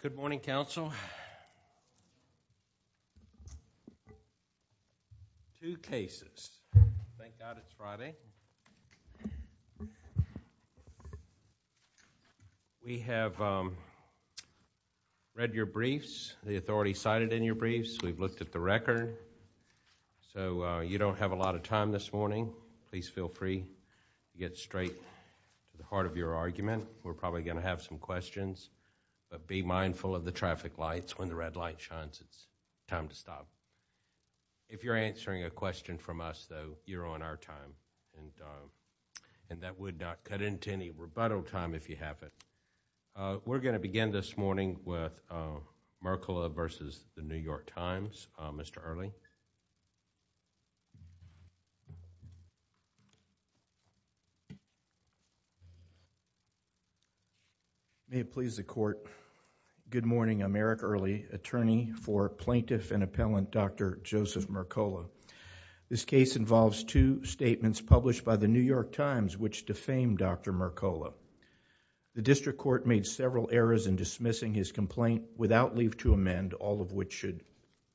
Good morning, counsel. Two cases. Thank God it's Friday. We have read your briefs. The authority cited in your briefs. We've looked at the record. So you don't have a lot of time this morning. Please feel free to get straight to the heart of your argument. We're probably going to have some questions, but be mindful of the traffic lights when the red light shines. It's time to stop. If you're answering a question from us, though, you're on our time. And that would not cut into any rebuttal time if you haven't. We're going to begin this morning with Mercola v. The New York Times. Mr. Earley. May it please the Court. Good morning. I'm Eric Earley, attorney for plaintiff and appellant Dr. Joseph Mercola. This case involves two statements published by The New York Times which defame Dr. Mercola. The district court made several errors in dismissing his complaint without leave to amend, all of which should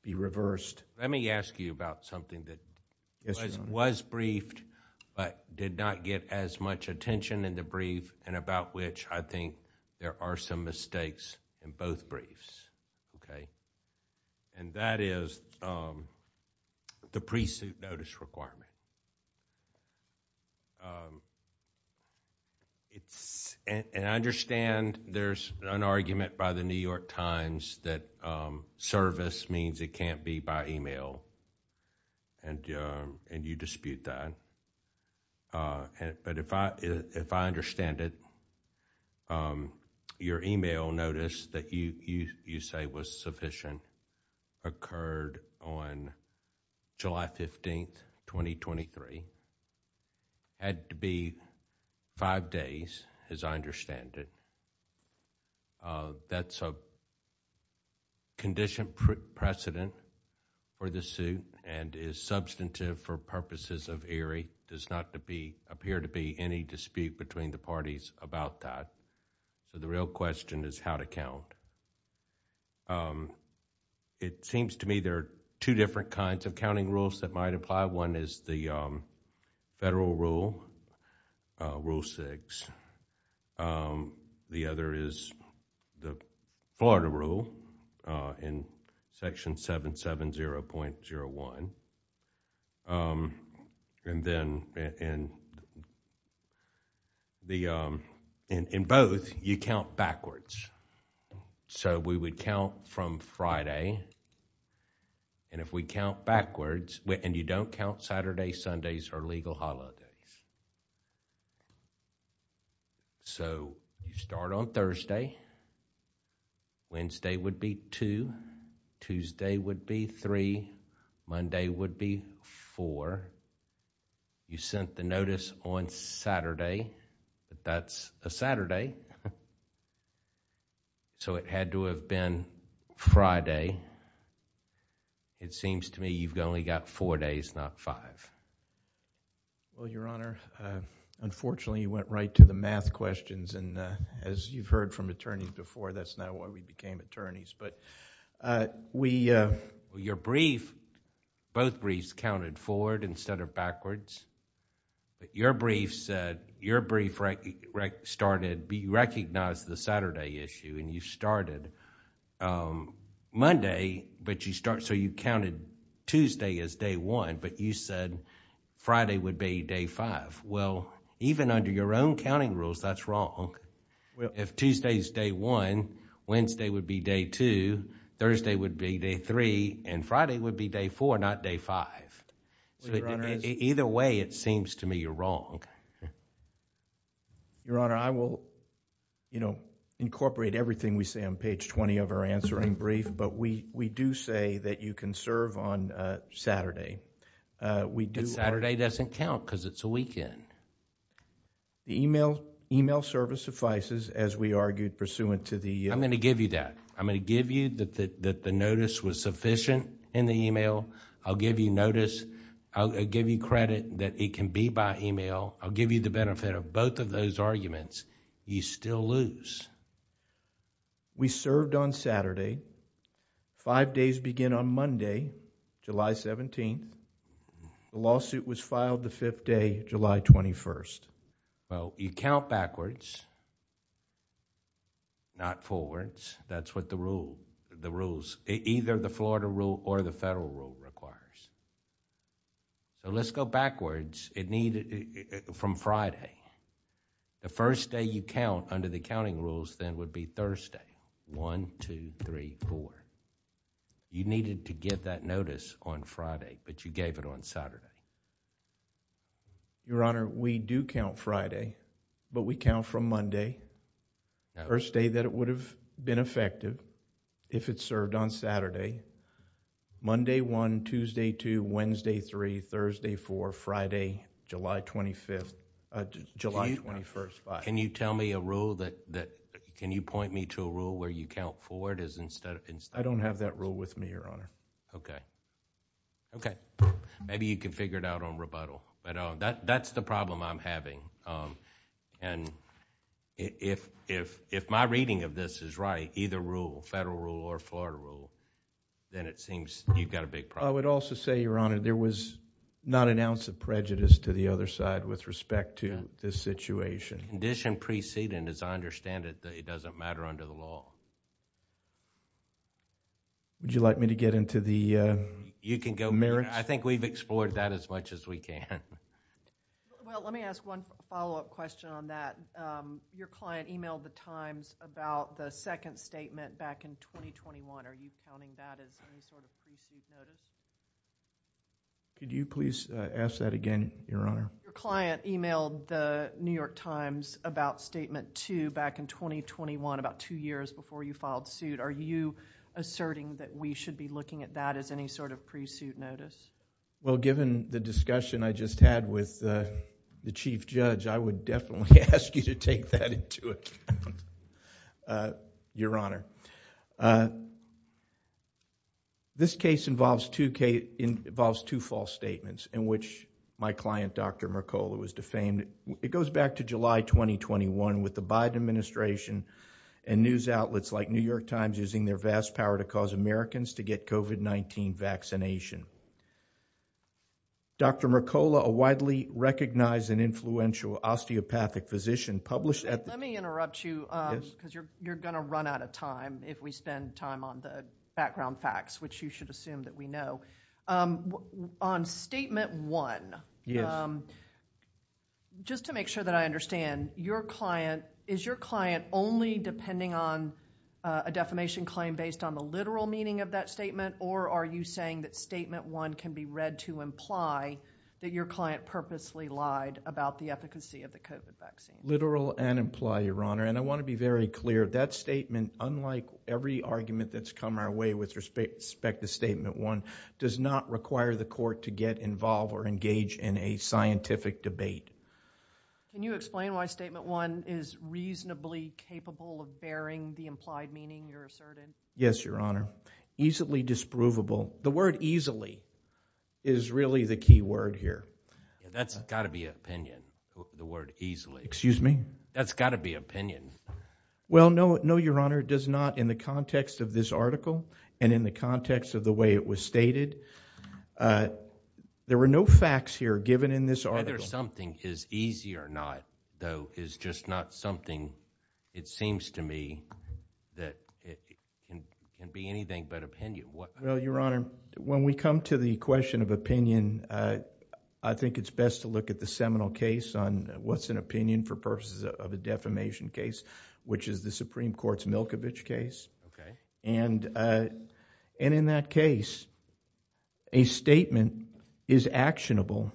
be reversed. Let me ask you about something that was briefed, but did not get as much attention in the brief and about which I think there are some mistakes in both briefs. That is the pre-suit notice requirement. And I understand there's an argument by The New York Times that service means it can't be by email, and you dispute that. But if I understand it, your email notice that you say was sufficient occurred on July 15, 2023. Had to be five days, as I understand it. That's a condition precedent for the suit and is substantive for purposes of Erie. There does not appear to be any dispute between the parties about that. So the real question is how to count. It seems to me there are two different kinds of counting rules that might apply. One is the federal rule, Rule 6. The other is the Florida rule in Section 770.01. In both, you count backwards. So we would count from Friday. And if we count backwards, and you don't count Saturday, Sundays, or legal holidays. So you start on Thursday. Wednesday would be two. Tuesday would be three. Monday would be four. You sent the notice on Saturday. That's a Saturday. So it had to have been Friday. It seems to me you've only got four days, not five. Well, Your Honor, unfortunately you went right to the math questions. And as you've heard from attorneys before, that's not why we became attorneys. Your brief, both briefs counted forward instead of backwards. But your brief said... your brief started, you recognized the Saturday issue and you started Monday. So you counted Tuesday as day one, but you said Friday would be day five. Well, even under your own counting rules, that's wrong. If Tuesday is day one, Wednesday would be day two, Thursday would be day three, and Friday would be day four, not day five. So either way, it seems to me you're wrong. Your Honor, I will incorporate everything we say on page 20 of our answering brief, but we do say that you can serve on Saturday. But Saturday doesn't count because it's a weekend. The email service suffices, as we argued pursuant to the... I'm going to give you that. I'm going to give you that the notice was sufficient in the email. I'll give you notice. I'll give you credit that it can be by email. I'll give you the benefit of both of those arguments. You still lose. We served on Saturday. Five days begin on Monday, July 17th. The lawsuit was filed the fifth day, July 21st. You count backwards, not forwards. That's what the rules... either the Florida rule or the federal rule requires. Let's go backwards from Friday. The first day you count under the counting rules then would be Thursday, 1, 2, 3, 4. You needed to get that notice on Friday, but you gave it on Saturday. Your Honor, we do count Friday, but we count from Monday, the first day that it would have been effective if it served on Saturday, Monday 1, Tuesday 2, Wednesday 3, Thursday 4, Friday July 25th... July 21st. Can you tell me a rule that... can you point me to a rule where you count forward instead of... Okay. Maybe you can figure it out on rebuttal. That's the problem I'm having. If my reading of this is right, either rule, federal rule or Florida rule, then it seems you've got a big problem. I would also say, Your Honor, there was not an ounce of prejudice to the other side with respect to this situation. Condition preceding, as I understand it, that it doesn't matter under the law. Would you like me to get into the merits? You can go... I think we've explored that as much as we can. Well, let me ask one follow-up question on that. Your client emailed the Times about the second statement back in 2021. Are you counting that as any sort of precinct notice? Could you please ask that again, Your Honor? Your client emailed the New York Times about statement two back in 2021, about two years before you filed suit. Are you asserting that we should be looking at that as any sort of pre-suit notice? Well, given the discussion I just had with the Chief Judge, I would definitely ask you to take that into account, Your Honor. This case involves two false statements in which my client, Dr. Mercola, was defamed. It goes back to July 2021 with the Biden administration and news outlets like New York Times using their vast power to cause Americans to get COVID-19 vaccination. Dr. Mercola, a widely recognized and influential osteopathic physician, published... Let me interrupt you because you're going to run out of time if we spend time on the background facts, which you should assume that we know. On statement one, just to make sure that I understand, is your client only depending on a defamation claim based on the literal meaning of that statement, or are you saying that statement one can be read to imply that your client purposely lied about the efficacy of the COVID vaccine? Literal and implied, Your Honor. And I want to be very clear, that statement, unlike every argument that's come our way with respect to statement one, does not require the court to get involved or engage in a scientific debate. Can you explain why statement one is reasonably capable of bearing the implied meaning you're asserting? Yes, Your Honor. Easily disprovable. The word easily is really the key word here. That's got to be opinion, the word easily. Excuse me? That's got to be opinion. Well, no, Your Honor, it does not in the context of this article and in the context of the way it was stated. There were no facts here given in this article. Whether something is easy or not, though, is just not something, it seems to me, that can be anything but opinion. Well, Your Honor, when we come to the question of opinion, I think it's best to look at the case on what's an opinion for purposes of a defamation case, which is the Supreme Court's Milkovich case. And in that case, a statement is actionable,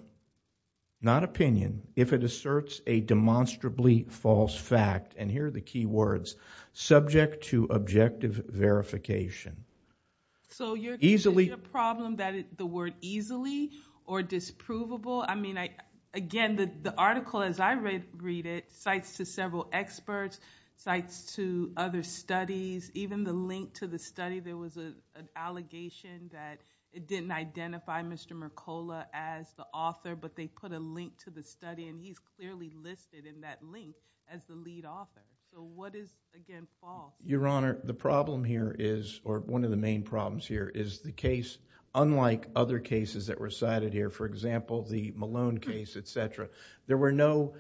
not opinion, if it asserts a demonstrably false fact. And here are the key words, subject to objective verification. So your problem that the word easily or disprovable, I mean, again, the article, as I read it, cites to several experts, cites to other studies, even the link to the study. There was an allegation that it didn't identify Mr. Mercola as the author, but they put a link to the study, and he's clearly listed in that link as the lead author. So what is, again, false? Your Honor, the problem here is, or one of the main problems here, is the case, unlike other cases that were cited here, for example, the Malone case, et cetera, there were no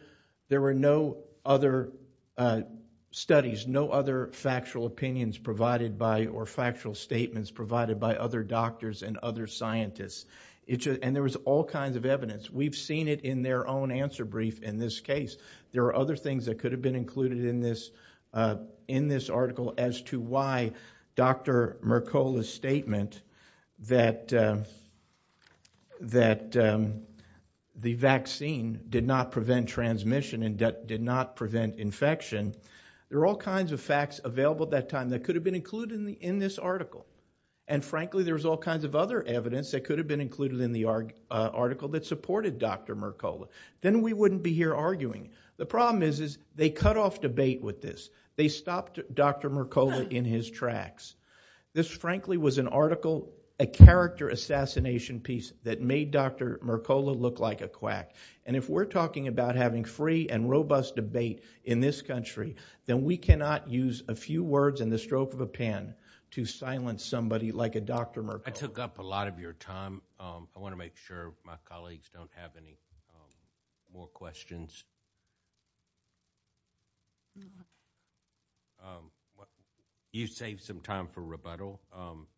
other studies, no other factual opinions provided by, or factual statements provided by other doctors and other scientists. And there was all kinds of evidence. We've seen it in their own answer brief in this case. There are other things that could have been included in this article as to why Dr. Mercola's that the vaccine did not prevent transmission and did not prevent infection. There are all kinds of facts available at that time that could have been included in this article. And frankly, there was all kinds of other evidence that could have been included in the article that supported Dr. Mercola. Then we wouldn't be here arguing. The problem is, is they cut off debate with this. They stopped Dr. Mercola in his tracks. This, frankly, was an article, a character assassination piece that made Dr. Mercola look like a quack. And if we're talking about having free and robust debate in this country, then we cannot use a few words and the stroke of a pen to silence somebody like a Dr. Mercola. I took up a lot of your time. I want to make sure my colleagues don't have any more questions. You save some time for rebuttal,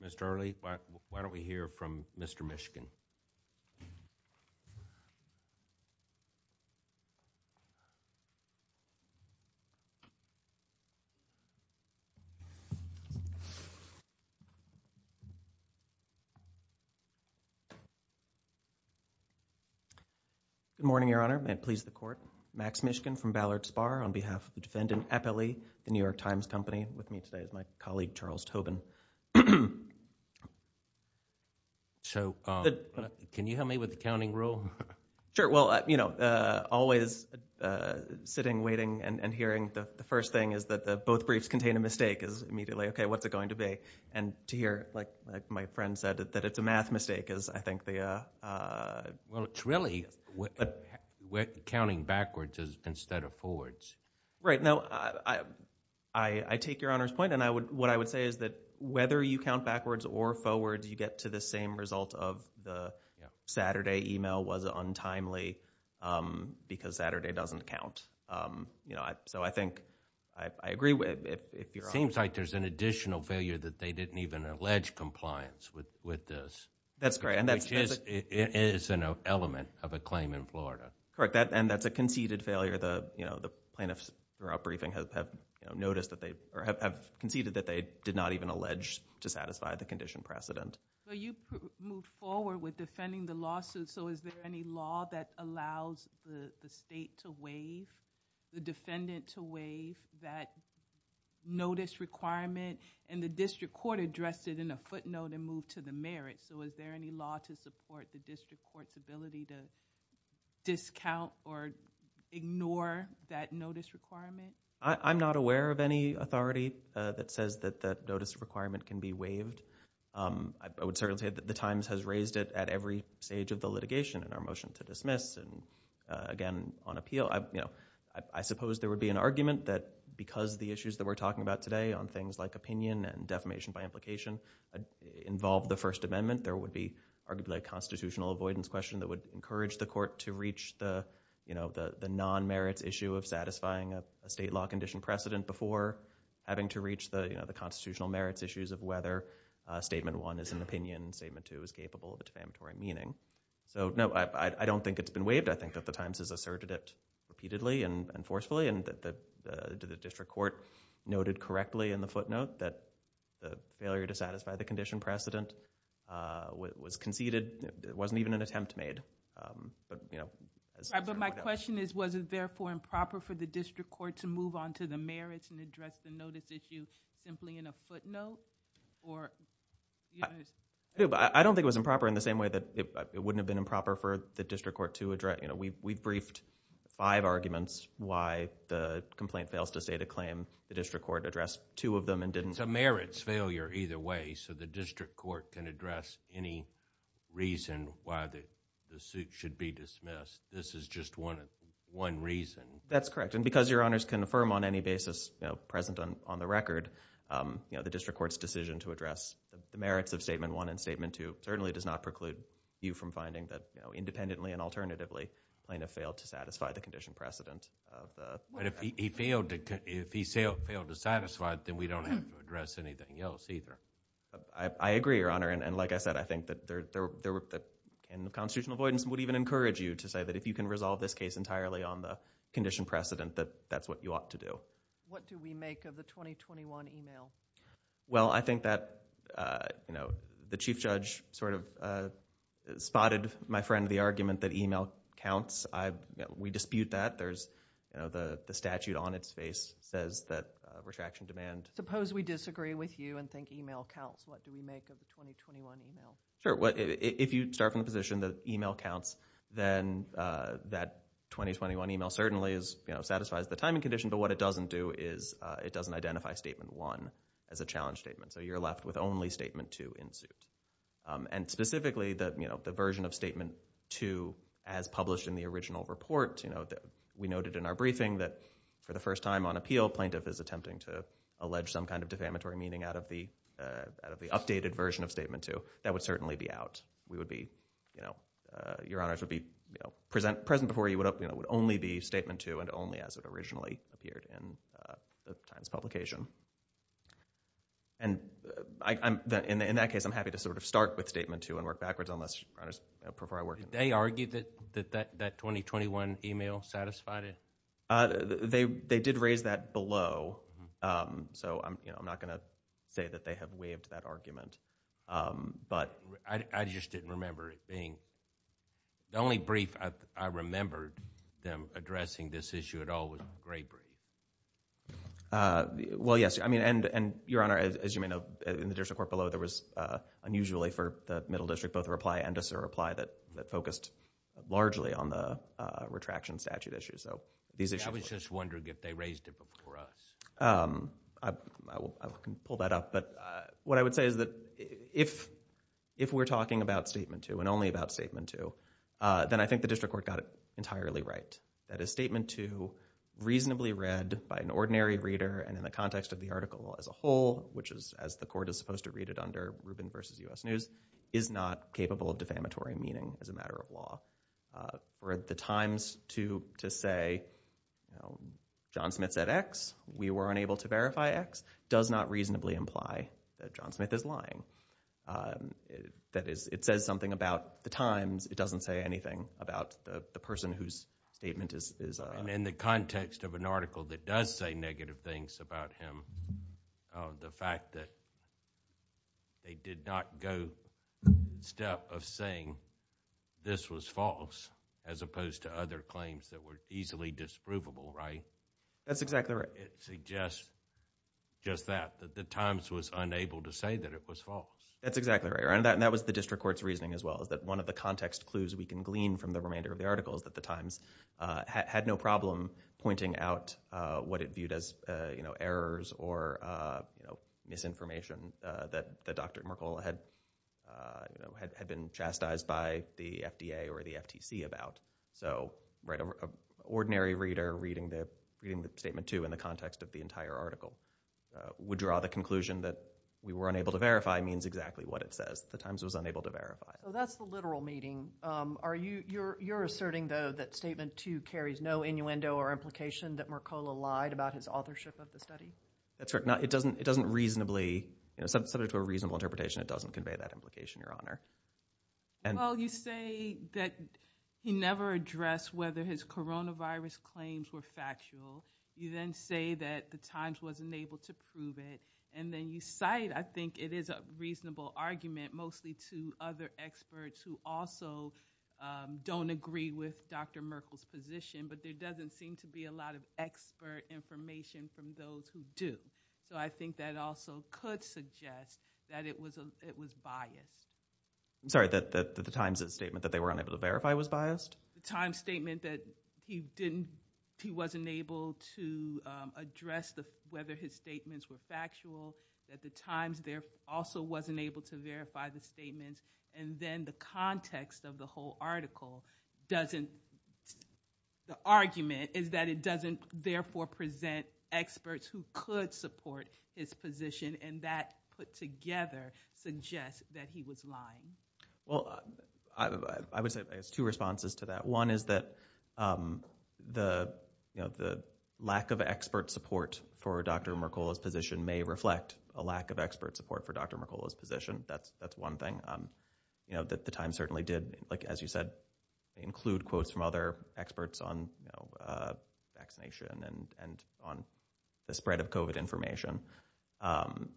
Mr. Early. Why don't we hear from Mr. Michigan? Good morning, Your Honor. May it please the court. Max Michigan from Ballard Spar on behalf of the defendant, Eppley, the New York Times Company, with me today is my colleague, Charles Tobin. Can you help me with the counting rule? Sure. Well, you know, always sitting, waiting, and hearing the first thing is that both briefs contain a mistake is immediately, okay, what's it going to be? And to hear, like my friend said, that it's a math mistake is, I think, the... It's really counting backwards instead of forwards. Right. Now, I take Your Honor's point, and what I would say is that whether you count backwards or forwards, you get to the same result of the Saturday email was untimely because Saturday doesn't count. So I think I agree with if Your Honor... Seems like there's an additional failure that they didn't even allege compliance with this. That's correct. It is an element of a claim in Florida. And that's a conceded failure. The plaintiffs throughout briefing have conceded that they did not even allege to satisfy the condition precedent. So you moved forward with defending the lawsuit, so is there any law that allows the state to waive, the defendant to waive that notice requirement? And the district court addressed it in a footnote and moved to the merit. So is there any law to support the district court's ability to discount or ignore that notice requirement? I'm not aware of any authority that says that that notice requirement can be waived. I would certainly say that the Times has raised it at every stage of the litigation in our motion to dismiss. And again, on appeal, I suppose there would be an argument that because the issues that we're talking about today on things like opinion and defamation by implication involved the First Amendment, there would be arguably a constitutional avoidance question that would encourage the court to reach the non-merits issue of satisfying a state law condition precedent before having to reach the constitutional merits issues of whether statement one is an opinion, statement two is capable of a defamatory meaning. So no, I don't think it's been waived. I think that the Times has asserted it repeatedly and forcefully. And the district court noted correctly in the footnote that the failure to satisfy the condition precedent was conceded. It wasn't even an attempt made. But my question is, was it therefore improper for the district court to move on to the merits and address the notice issue simply in a footnote? I don't think it was improper in the same way that it wouldn't have been improper for the district court to address. We've briefed five arguments why the complaint fails to state a claim. The district court addressed two of them and didn't. It's a merits failure either way. So the district court can address any reason why the suit should be dismissed. This is just one reason. That's correct. And because your honors can affirm on any basis present on the record, the district court's decision to address the merits of statement one and statement two certainly does not preclude you from finding that independently and alternatively plaintiff failed to satisfy the condition precedent. But if he failed to satisfy it, then we don't have to address anything else either. I agree, your honor. And like I said, I think that the constitutional avoidance would even encourage you to say that if you can resolve this case entirely on the condition precedent, that that's what you ought to do. What do we make of the 2021 email? Well, I think that the chief judge sort of spotted, my friend, the argument that email counts. We dispute that. The statute on its face says that retraction demand. Suppose we disagree with you and think email counts. What do we make of the 2021 email? Sure. If you start from the position that email counts, then that 2021 email certainly satisfies the timing condition. But what it doesn't do is it doesn't identify statement one as a challenge statement. So you're left with only statement two in suit. And specifically, the version of statement two as published in the original report, we noted in our briefing that for the first time on appeal, plaintiff is attempting to allege some kind of defamatory meaning out of the out of the updated version of statement two. That would certainly be out. We would be, you know, your honors would be present before you would only be statement two and only as it originally appeared in the publication. And I'm in that case, I'm happy to sort of start with statement two and work backwards on this before I work. They argued that that that 2021 email satisfied it. They did raise that below. So I'm not going to say that they have waived that argument. But I just didn't remember it being the only brief I remembered them addressing this issue at all with great. Well, yes, I mean, and your honor, as you may know, in the district court below, there unusually for the middle district, both reply and disreply that focused largely on the retraction statute issue. So these issues... I was just wondering if they raised it before us. I can pull that up. But what I would say is that if we're talking about statement two and only about statement two, then I think the district court got it entirely right. That is statement two reasonably read by an ordinary reader and in the context of the Rubin versus U.S. news is not capable of defamatory meaning as a matter of law. Or at the Times to say, you know, John Smith said X. We were unable to verify X does not reasonably imply that John Smith is lying. That is, it says something about the Times. It doesn't say anything about the person whose statement is... And in the context of an article that does say negative things about him, the fact that they did not go the step of saying this was false as opposed to other claims that were easily disprovable, right? That's exactly right. It suggests just that, that the Times was unable to say that it was false. That's exactly right. And that was the district court's reasoning as well is that one of the context clues we can glean from the remainder of the article is that the Times had no problem pointing out what it viewed as errors or misinformation that Dr. Merkel had been chastised by the FDA or the FTC about. So, right, an ordinary reader reading the statement two in the context of the entire article would draw the conclusion that we were unable to verify means exactly what it says. The Times was unable to verify. So that's the literal meaning. Are you, you're, you're asserting though that statement two carries no innuendo or implication that Merkola lied about his authorship of the study? That's right. Not, it doesn't, it doesn't reasonably, you know, subject to a reasonable interpretation, it doesn't convey that implication, Your Honor. And... Well, you say that he never addressed whether his coronavirus claims were factual. You then say that the Times wasn't able to prove it. And then you cite, I think it is a reasonable argument, mostly to other experts who also don't agree with Dr. Merkel's position, but there doesn't seem to be a lot of expert information from those who do. So I think that also could suggest that it was, it was biased. I'm sorry, that the Times' statement that they were unable to verify was biased? The Times' statement that he didn't, he wasn't able to address the, whether his statements were factual, that the Times also wasn't able to verify the statements, and then the context of the whole article doesn't, the argument is that it doesn't therefore present experts who could support his position, and that put together suggests that he was lying. Well, I would say there's two responses to that. One is that, um, the, you know, the lack of expert support for Dr. Merkel's position may reflect a lack of expert support for Dr. Merkel's position. That's, that's one thing, um, you know, that the Times certainly did, like, as you said, include quotes from other experts on, you know, uh, vaccination and, and on the spread of COVID information. Um,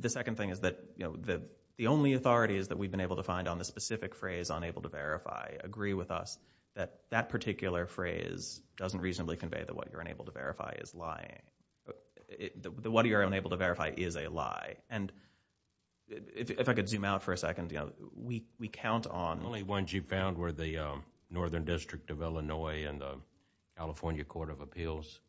the second thing is that, you know, the, the only authority is that we've been able to find on the specific phrase, unable to verify, agree with us that that particular phrase doesn't reasonably convey that what you're unable to verify is lying. The, what you're unable to verify is a lie. And if, if I could zoom out for a second, you know, we, we count on... The only ones you found were the, um, Northern District of Illinois and the California Court of Appeals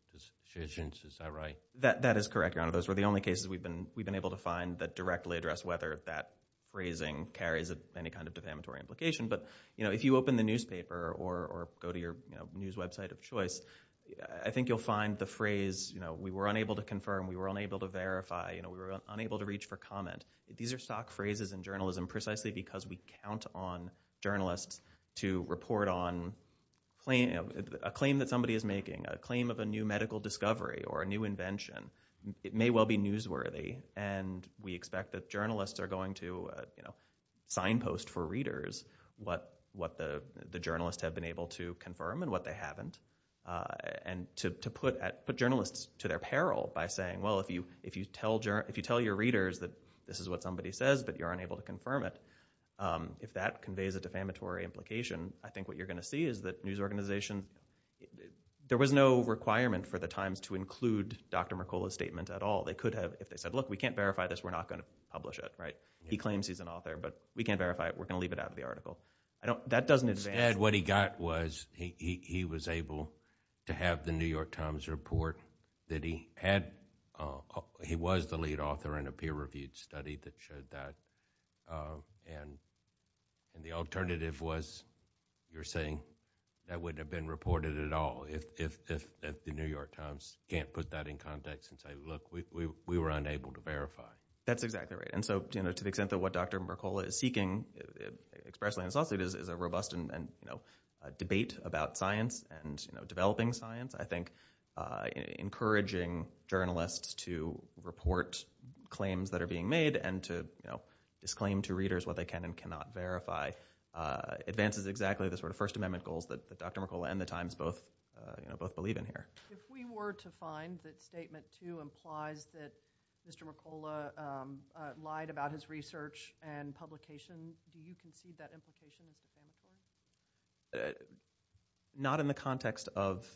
decisions, is that right? That, that is correct, Your Honor. Those were the only cases we've been, we've been able to find that directly address whether that phrasing carries any kind of defamatory implication. But, you know, if you open the newspaper or, or go to your news website of choice, I think you'll find the phrase, you know, we were unable to confirm, we were unable to verify, you know, we were unable to reach for comment. These are stock phrases in journalism precisely because we count on journalists to report on claim, a claim that somebody is making, a claim of a new medical discovery or a new invention. It may well be newsworthy and we expect that journalists are going to, you know, signpost for readers what, what the, the journalists have been able to confirm and what they haven't. And to, to put, put journalists to their peril by saying, well, if you, if you tell, if you tell your readers that this is what somebody says but you're unable to confirm it, um, if that conveys a defamatory implication, I think what you're going to see is that news organizations, there was no requirement for the Times to include Dr. Mercola's statement at all. They could have, if they said, look, we can't verify this, we're not going to publish it, right? He claims he's an author, but we can't verify it. We're going to leave it out of the article. I don't, that doesn't advance. Instead, what he got was he, he, he was able to have the New York Times report that he had, uh, he was the lead author in a peer-reviewed study that showed that, uh, and the alternative was, you're saying that wouldn't have been reported at all if, if, if, if the New York Times can't put that in context and say, look, we, we, we were unable to verify. That's exactly right. And so, you know, to the extent that what Dr. Mercola is seeking expressly and falsely is, is a robust and, and, you know, a debate about science and, you know, developing science, I think, uh, encouraging journalists to report claims that are being made and to, you know, disclaim to readers what they can and cannot verify, uh, advances exactly the sort of First Amendment goals that, that Dr. Mercola and the Times both, uh, you know, both believe in here. If we were to find that statement two implies that Mr. Mercola, um, uh, lied about his research and publication, do you concede that implication? Not in the context of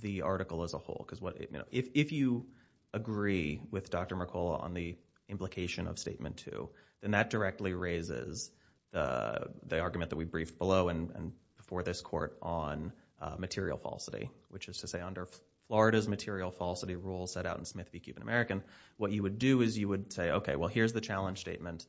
the article as a whole. Because what, you know, if, if you agree with Dr. Mercola on the implication of statement two, then that directly raises, uh, the argument that we briefed below and, and before this court on, uh, material falsity, which is to say under Florida's material falsity rule set out in Smith v. Cuban American, what you would do is you would say, okay, well, here's the challenge statement,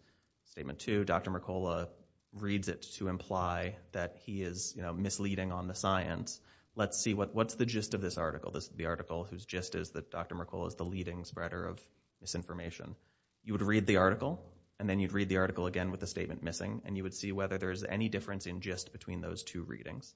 statement two, Dr. Mercola reads it to imply that he is misleading on the science. Let's see what, what's the gist of this article? This is the article whose gist is that Dr. Mercola is the leading spreader of misinformation. You would read the article and then you'd read the article again with the statement missing and you would see whether there's any difference in gist between those two readings.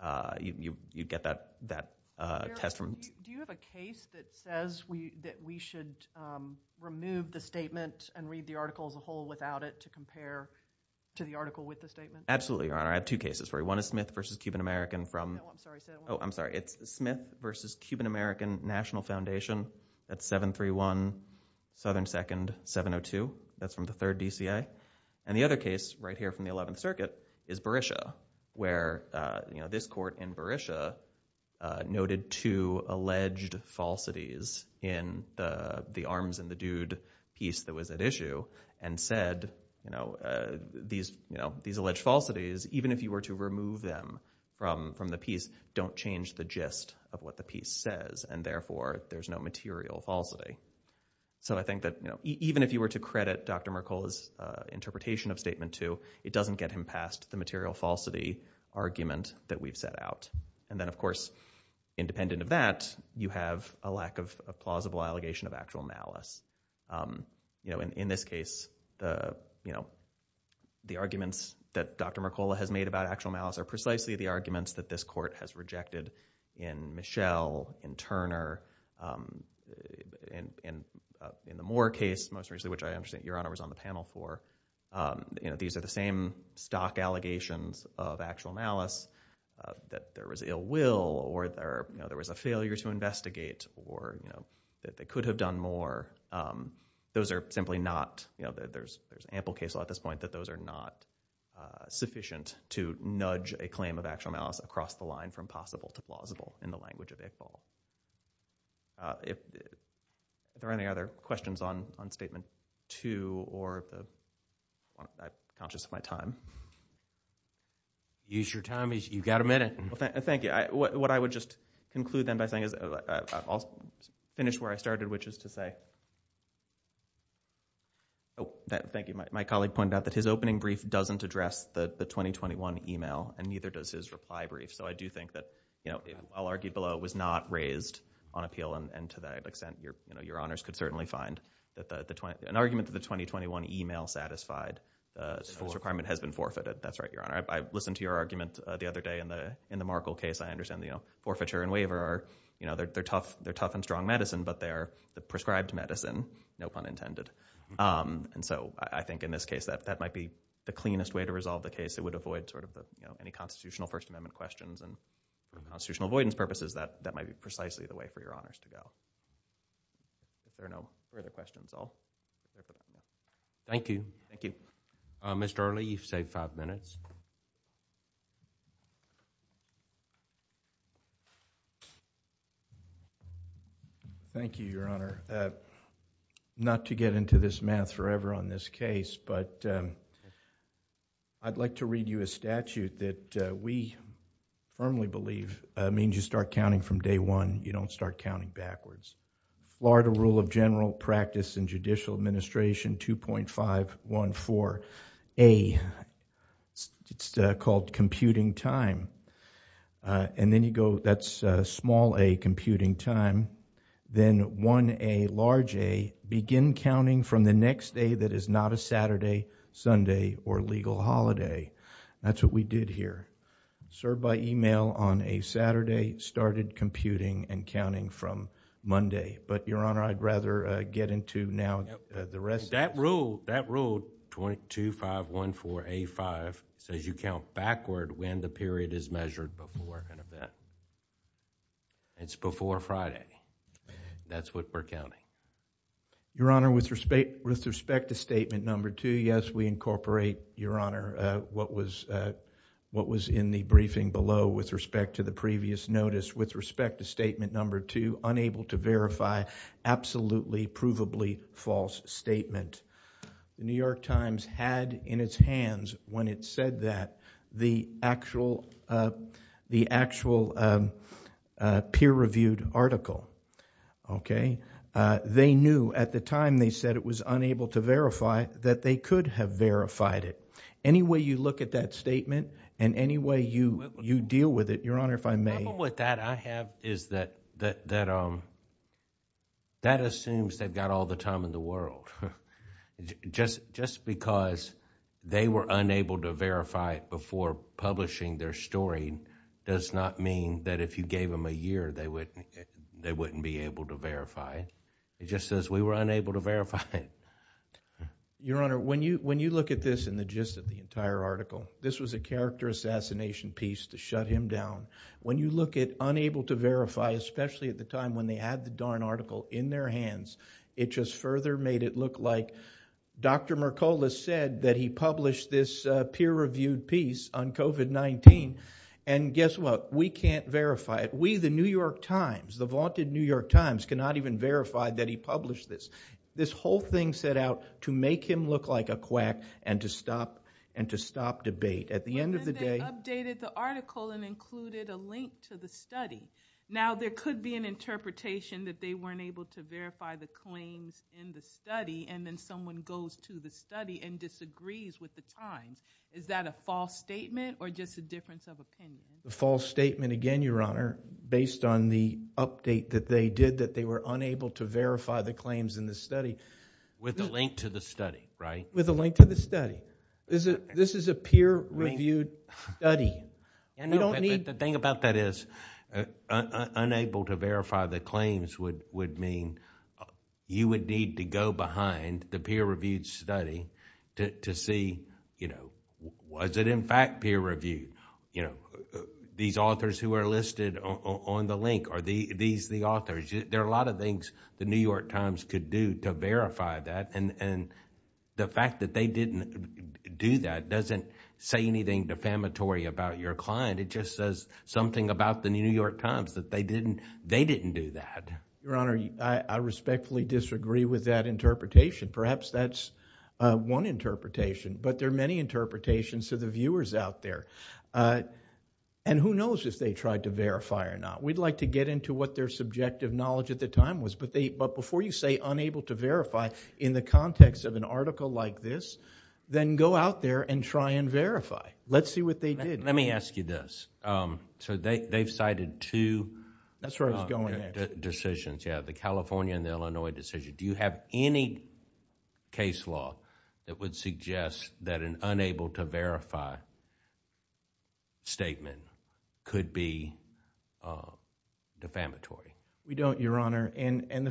Uh, you, you, you get that, that, uh, test from. Do you have a case that says we, that we should, um, remove the statement and read the article as a whole without it to compare to the article with the statement? Absolutely, Your Honor. I have two cases for you. One is Smith v. Cuban American from, oh, I'm sorry, it's Smith v. Cuban American National Foundation at 731 Southern 2nd, 702. That's from the third DCA. And the other case right here from the 11th circuit is Berisha where, uh, you know, this court in Berisha, uh, noted two alleged falsities in the, the arms and the dude piece that was at issue and said, you know, uh, these, you know, these alleged falsities, even if you were to remove them from, from the piece, don't change the gist of what the piece says. And therefore there's no material falsity. So I think that, you know, even if you were to credit Dr. Mercola's, uh, interpretation of statement two, it doesn't get him past the material falsity argument that we've set out. And then of course, independent of that, you have a lack of a plausible allegation of actual malice. Um, you know, in, in this case, the, you know, the arguments that Dr. Mercola has made about actual malice are precisely the arguments that this court has rejected in Michelle, in Turner, um, in, in, uh, in the Moore case, most recently, which I understand Your Honor was on the panel for. Um, you know, these are the same stock allegations of actual malice, uh, that there was ill will or there, you know, there was a failure to investigate or, you know, that they could have done more. Um, those are simply not, you know, there's, there's ample case law at this point that those are not, uh, sufficient to nudge a claim of actual malice across the line from possible to plausible in the language of Iqbal. Uh, if, if there are any other questions on, on statement two or the, I'm conscious of my time. Use your time as you've got a minute. Well, thank, thank you. I, what, what I would just conclude then by saying is I'll finish where I started, which is to say, oh, thank you. My colleague pointed out that his opening brief doesn't address the 2021 email and neither does his reply brief. So I do think that, you know, I'll argue below was not raised on appeal. And to that extent, your, you know, Your Honors could certainly find that the, the 20, an argument that the 2021 email satisfied, uh, requirement has been forfeited. That's right, Your Honor. I listened to your argument the other day in the, in the Markle case, I understand the, you know, forfeiture and waiver are, you know, they're, they're tough, they're tough and strong medicine, but they're the prescribed medicine, no pun intended. Um, and so I think in this case that, that might be the cleanest way to resolve the case. It would avoid sort of the, you know, any constitutional first amendment questions and for constitutional avoidance purposes, that, that might be precisely the way for Your Honors to go. If there are no further questions, I'll. Thank you. Thank you. Mr. Early, you've saved five minutes. Thank you, Your Honor. Uh, not to get into this math forever on this case, but, um, I'd like to read you a statute that, uh, we firmly believe, uh, means you start counting from day one, you don't start counting backwards. Florida Rule of General Practice and Judicial Administration 2.514A, it's, uh, called computing time. Uh, and then you go, that's a small a computing time, then one, a large a begin counting from the next day. That is not a Saturday, Sunday or legal holiday. That's what we did here. Served by email on a Saturday, started computing and counting from Monday, but Your Honor, I'd rather, uh, get into now the rest. That rule 22.514A5 says you count backward when the period is measured before an event. It's before Friday. That's what we're counting. Your Honor, with respect, with respect to statement number two, yes, we incorporate, Your Honor, uh, what was, uh, what was in the briefing below with respect to the previous notice with respect to statement number two, unable to verify absolutely provably false statement. New York Times had in its hands when it said that the actual, uh, the actual, um, uh, peer reviewed article. Okay. Uh, they knew at the time they said it was unable to verify that they could have verified it. Any way you look at that statement and any way you, you deal with it, Your Honor, if I may. The trouble with that I have is that, that, that, um, that assumes they've got all the time in the world. Just, just because they were unable to verify it before publishing their story does not mean that if you gave them a year, they wouldn't, they wouldn't be able to verify it. It just says we were unable to verify it. Your Honor, when you, when you look at this in the gist of the entire article, this was a character assassination piece to shut him down. When you look at unable to verify, especially at the time when they had the darn article in their hands, it just further made it look like Dr. Mercola said that he published this peer reviewed piece on COVID-19 and guess what? We can't verify it. We, the New York Times, the vaunted New York Times cannot even verify that he published this. This whole thing set out to make him look like a quack and to stop and to stop debate at the end of the day. But then they updated the article and included a link to the study. Now there could be an interpretation that they weren't able to verify the claims in the study and then someone goes to the study and disagrees with the Times. Is that a false statement or just a difference of opinion? A false statement again, Your Honor, based on the update that they did that they were unable to verify the claims in the study. With the link to the study, right? With the link to the study. This is a peer reviewed study. The thing about that is, unable to verify the claims would mean you would need to go behind the peer reviewed study to see, you know, was it in fact peer reviewed? You know, these authors who are listed on the link, are these the authors? There are a lot of things the New York Times could do to verify that and the fact that they didn't do that doesn't say anything defamatory about your client. It just says something about the New York Times that they didn't do that. Your Honor, I respectfully disagree with that interpretation. Perhaps that's one interpretation, but there are many interpretations to the viewers out there and who knows if they tried to verify or not. We'd like to get into what their subjective knowledge at the time was, but before you unable to verify in the context of an article like this, then go out there and try and verify. Let's see what they did. Let me ask you this. They've cited two decisions, the California and the Illinois decision. Do you have any case law that would suggest that an unable to verify statement could be defamatory? We don't, Your Honor. The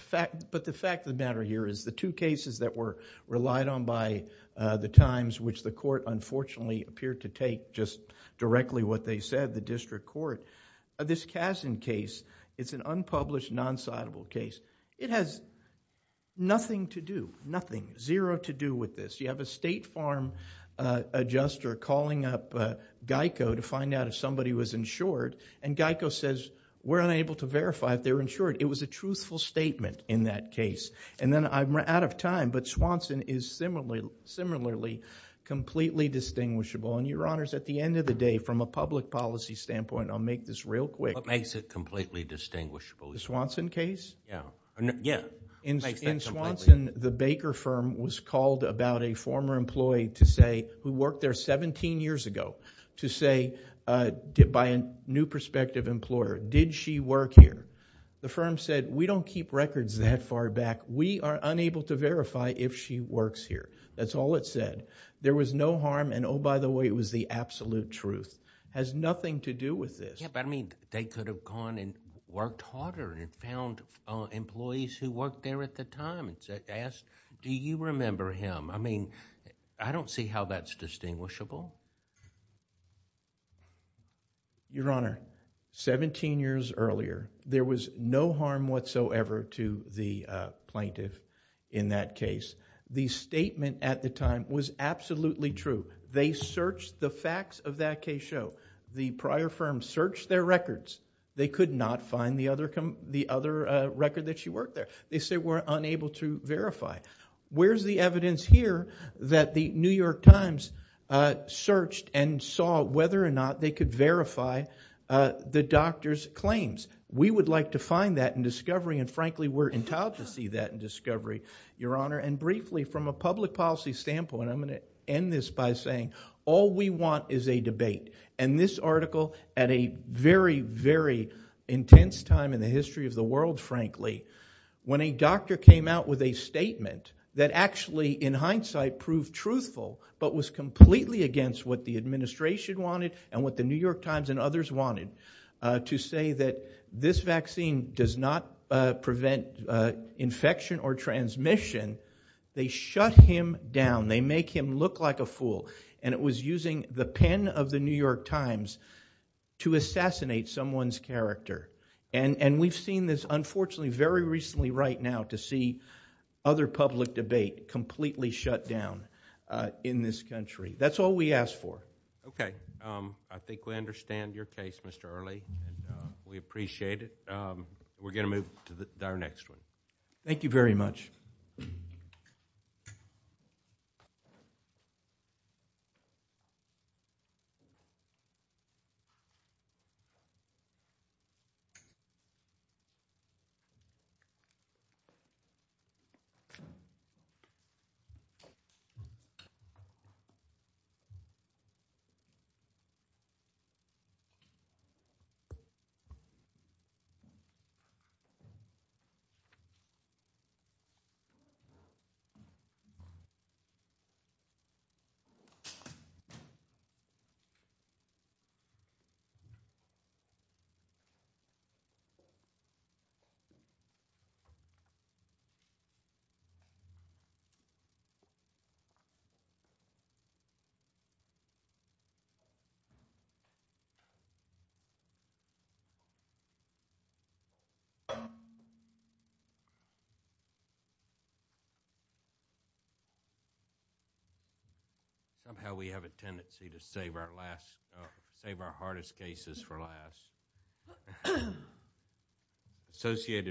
fact of the matter here is the two cases that were relied on by the Times, which the court unfortunately appeared to take just directly what they said, the district court. This Kazin case, it's an unpublished non-citable case. It has nothing to do, nothing, zero to do with this. You have a state farm adjuster calling up GEICO to find out if somebody was insured and GEICO says, we're unable to verify if they're insured. It was a truthful statement in that case. Then I'm out of time, but Swanson is similarly completely distinguishable. Your Honors, at the end of the day, from a public policy standpoint, I'll make this real quick. What makes it completely distinguishable? The Swanson case? Yeah. In Swanson, the Baker firm was called about a former employee who worked there 17 years ago to say by a new prospective employer, did she work here? The firm said, we don't keep records that far back. We are unable to verify if she works here. That's all it said. There was no harm and oh, by the way, it was the absolute truth. Has nothing to do with this. Yeah, but I mean, they could have gone and worked harder and found employees who worked there at the time and asked, do you remember him? I mean, I don't see how that's distinguishable. Your Honor, 17 years earlier, there was no harm whatsoever to the plaintiff in that case. The statement at the time was absolutely true. They searched the facts of that case show. The prior firm searched their records. They could not find the other record that she worked there. They said, we're unable to verify. Where's the evidence here that the New York Times searched and saw whether or not they could verify the doctor's claims? We would like to find that in discovery. And frankly, we're entitled to see that in discovery, Your Honor. And briefly, from a public policy standpoint, I'm going to end this by saying, all we want is a debate. And this article at a very, very intense time in the history of the world, frankly, when a doctor came out with a statement that actually, in hindsight, proved truthful, but was completely against what the administration wanted and what the New York Times and others wanted to say that this vaccine does not prevent infection or transmission. They shut him down. They make him look like a fool. And it was using the pen of the New York Times to assassinate someone's character. And we've seen this, unfortunately, very recently right now to see other public debate completely shut down in this country. That's all we ask for. Okay. I think we understand your case, Mr. Early. We appreciate it. We're going to move to our next one. Thank you very much. Thank you. Somehow, we have a tendency to save our last, save our hardest cases for last. Remember. Associated.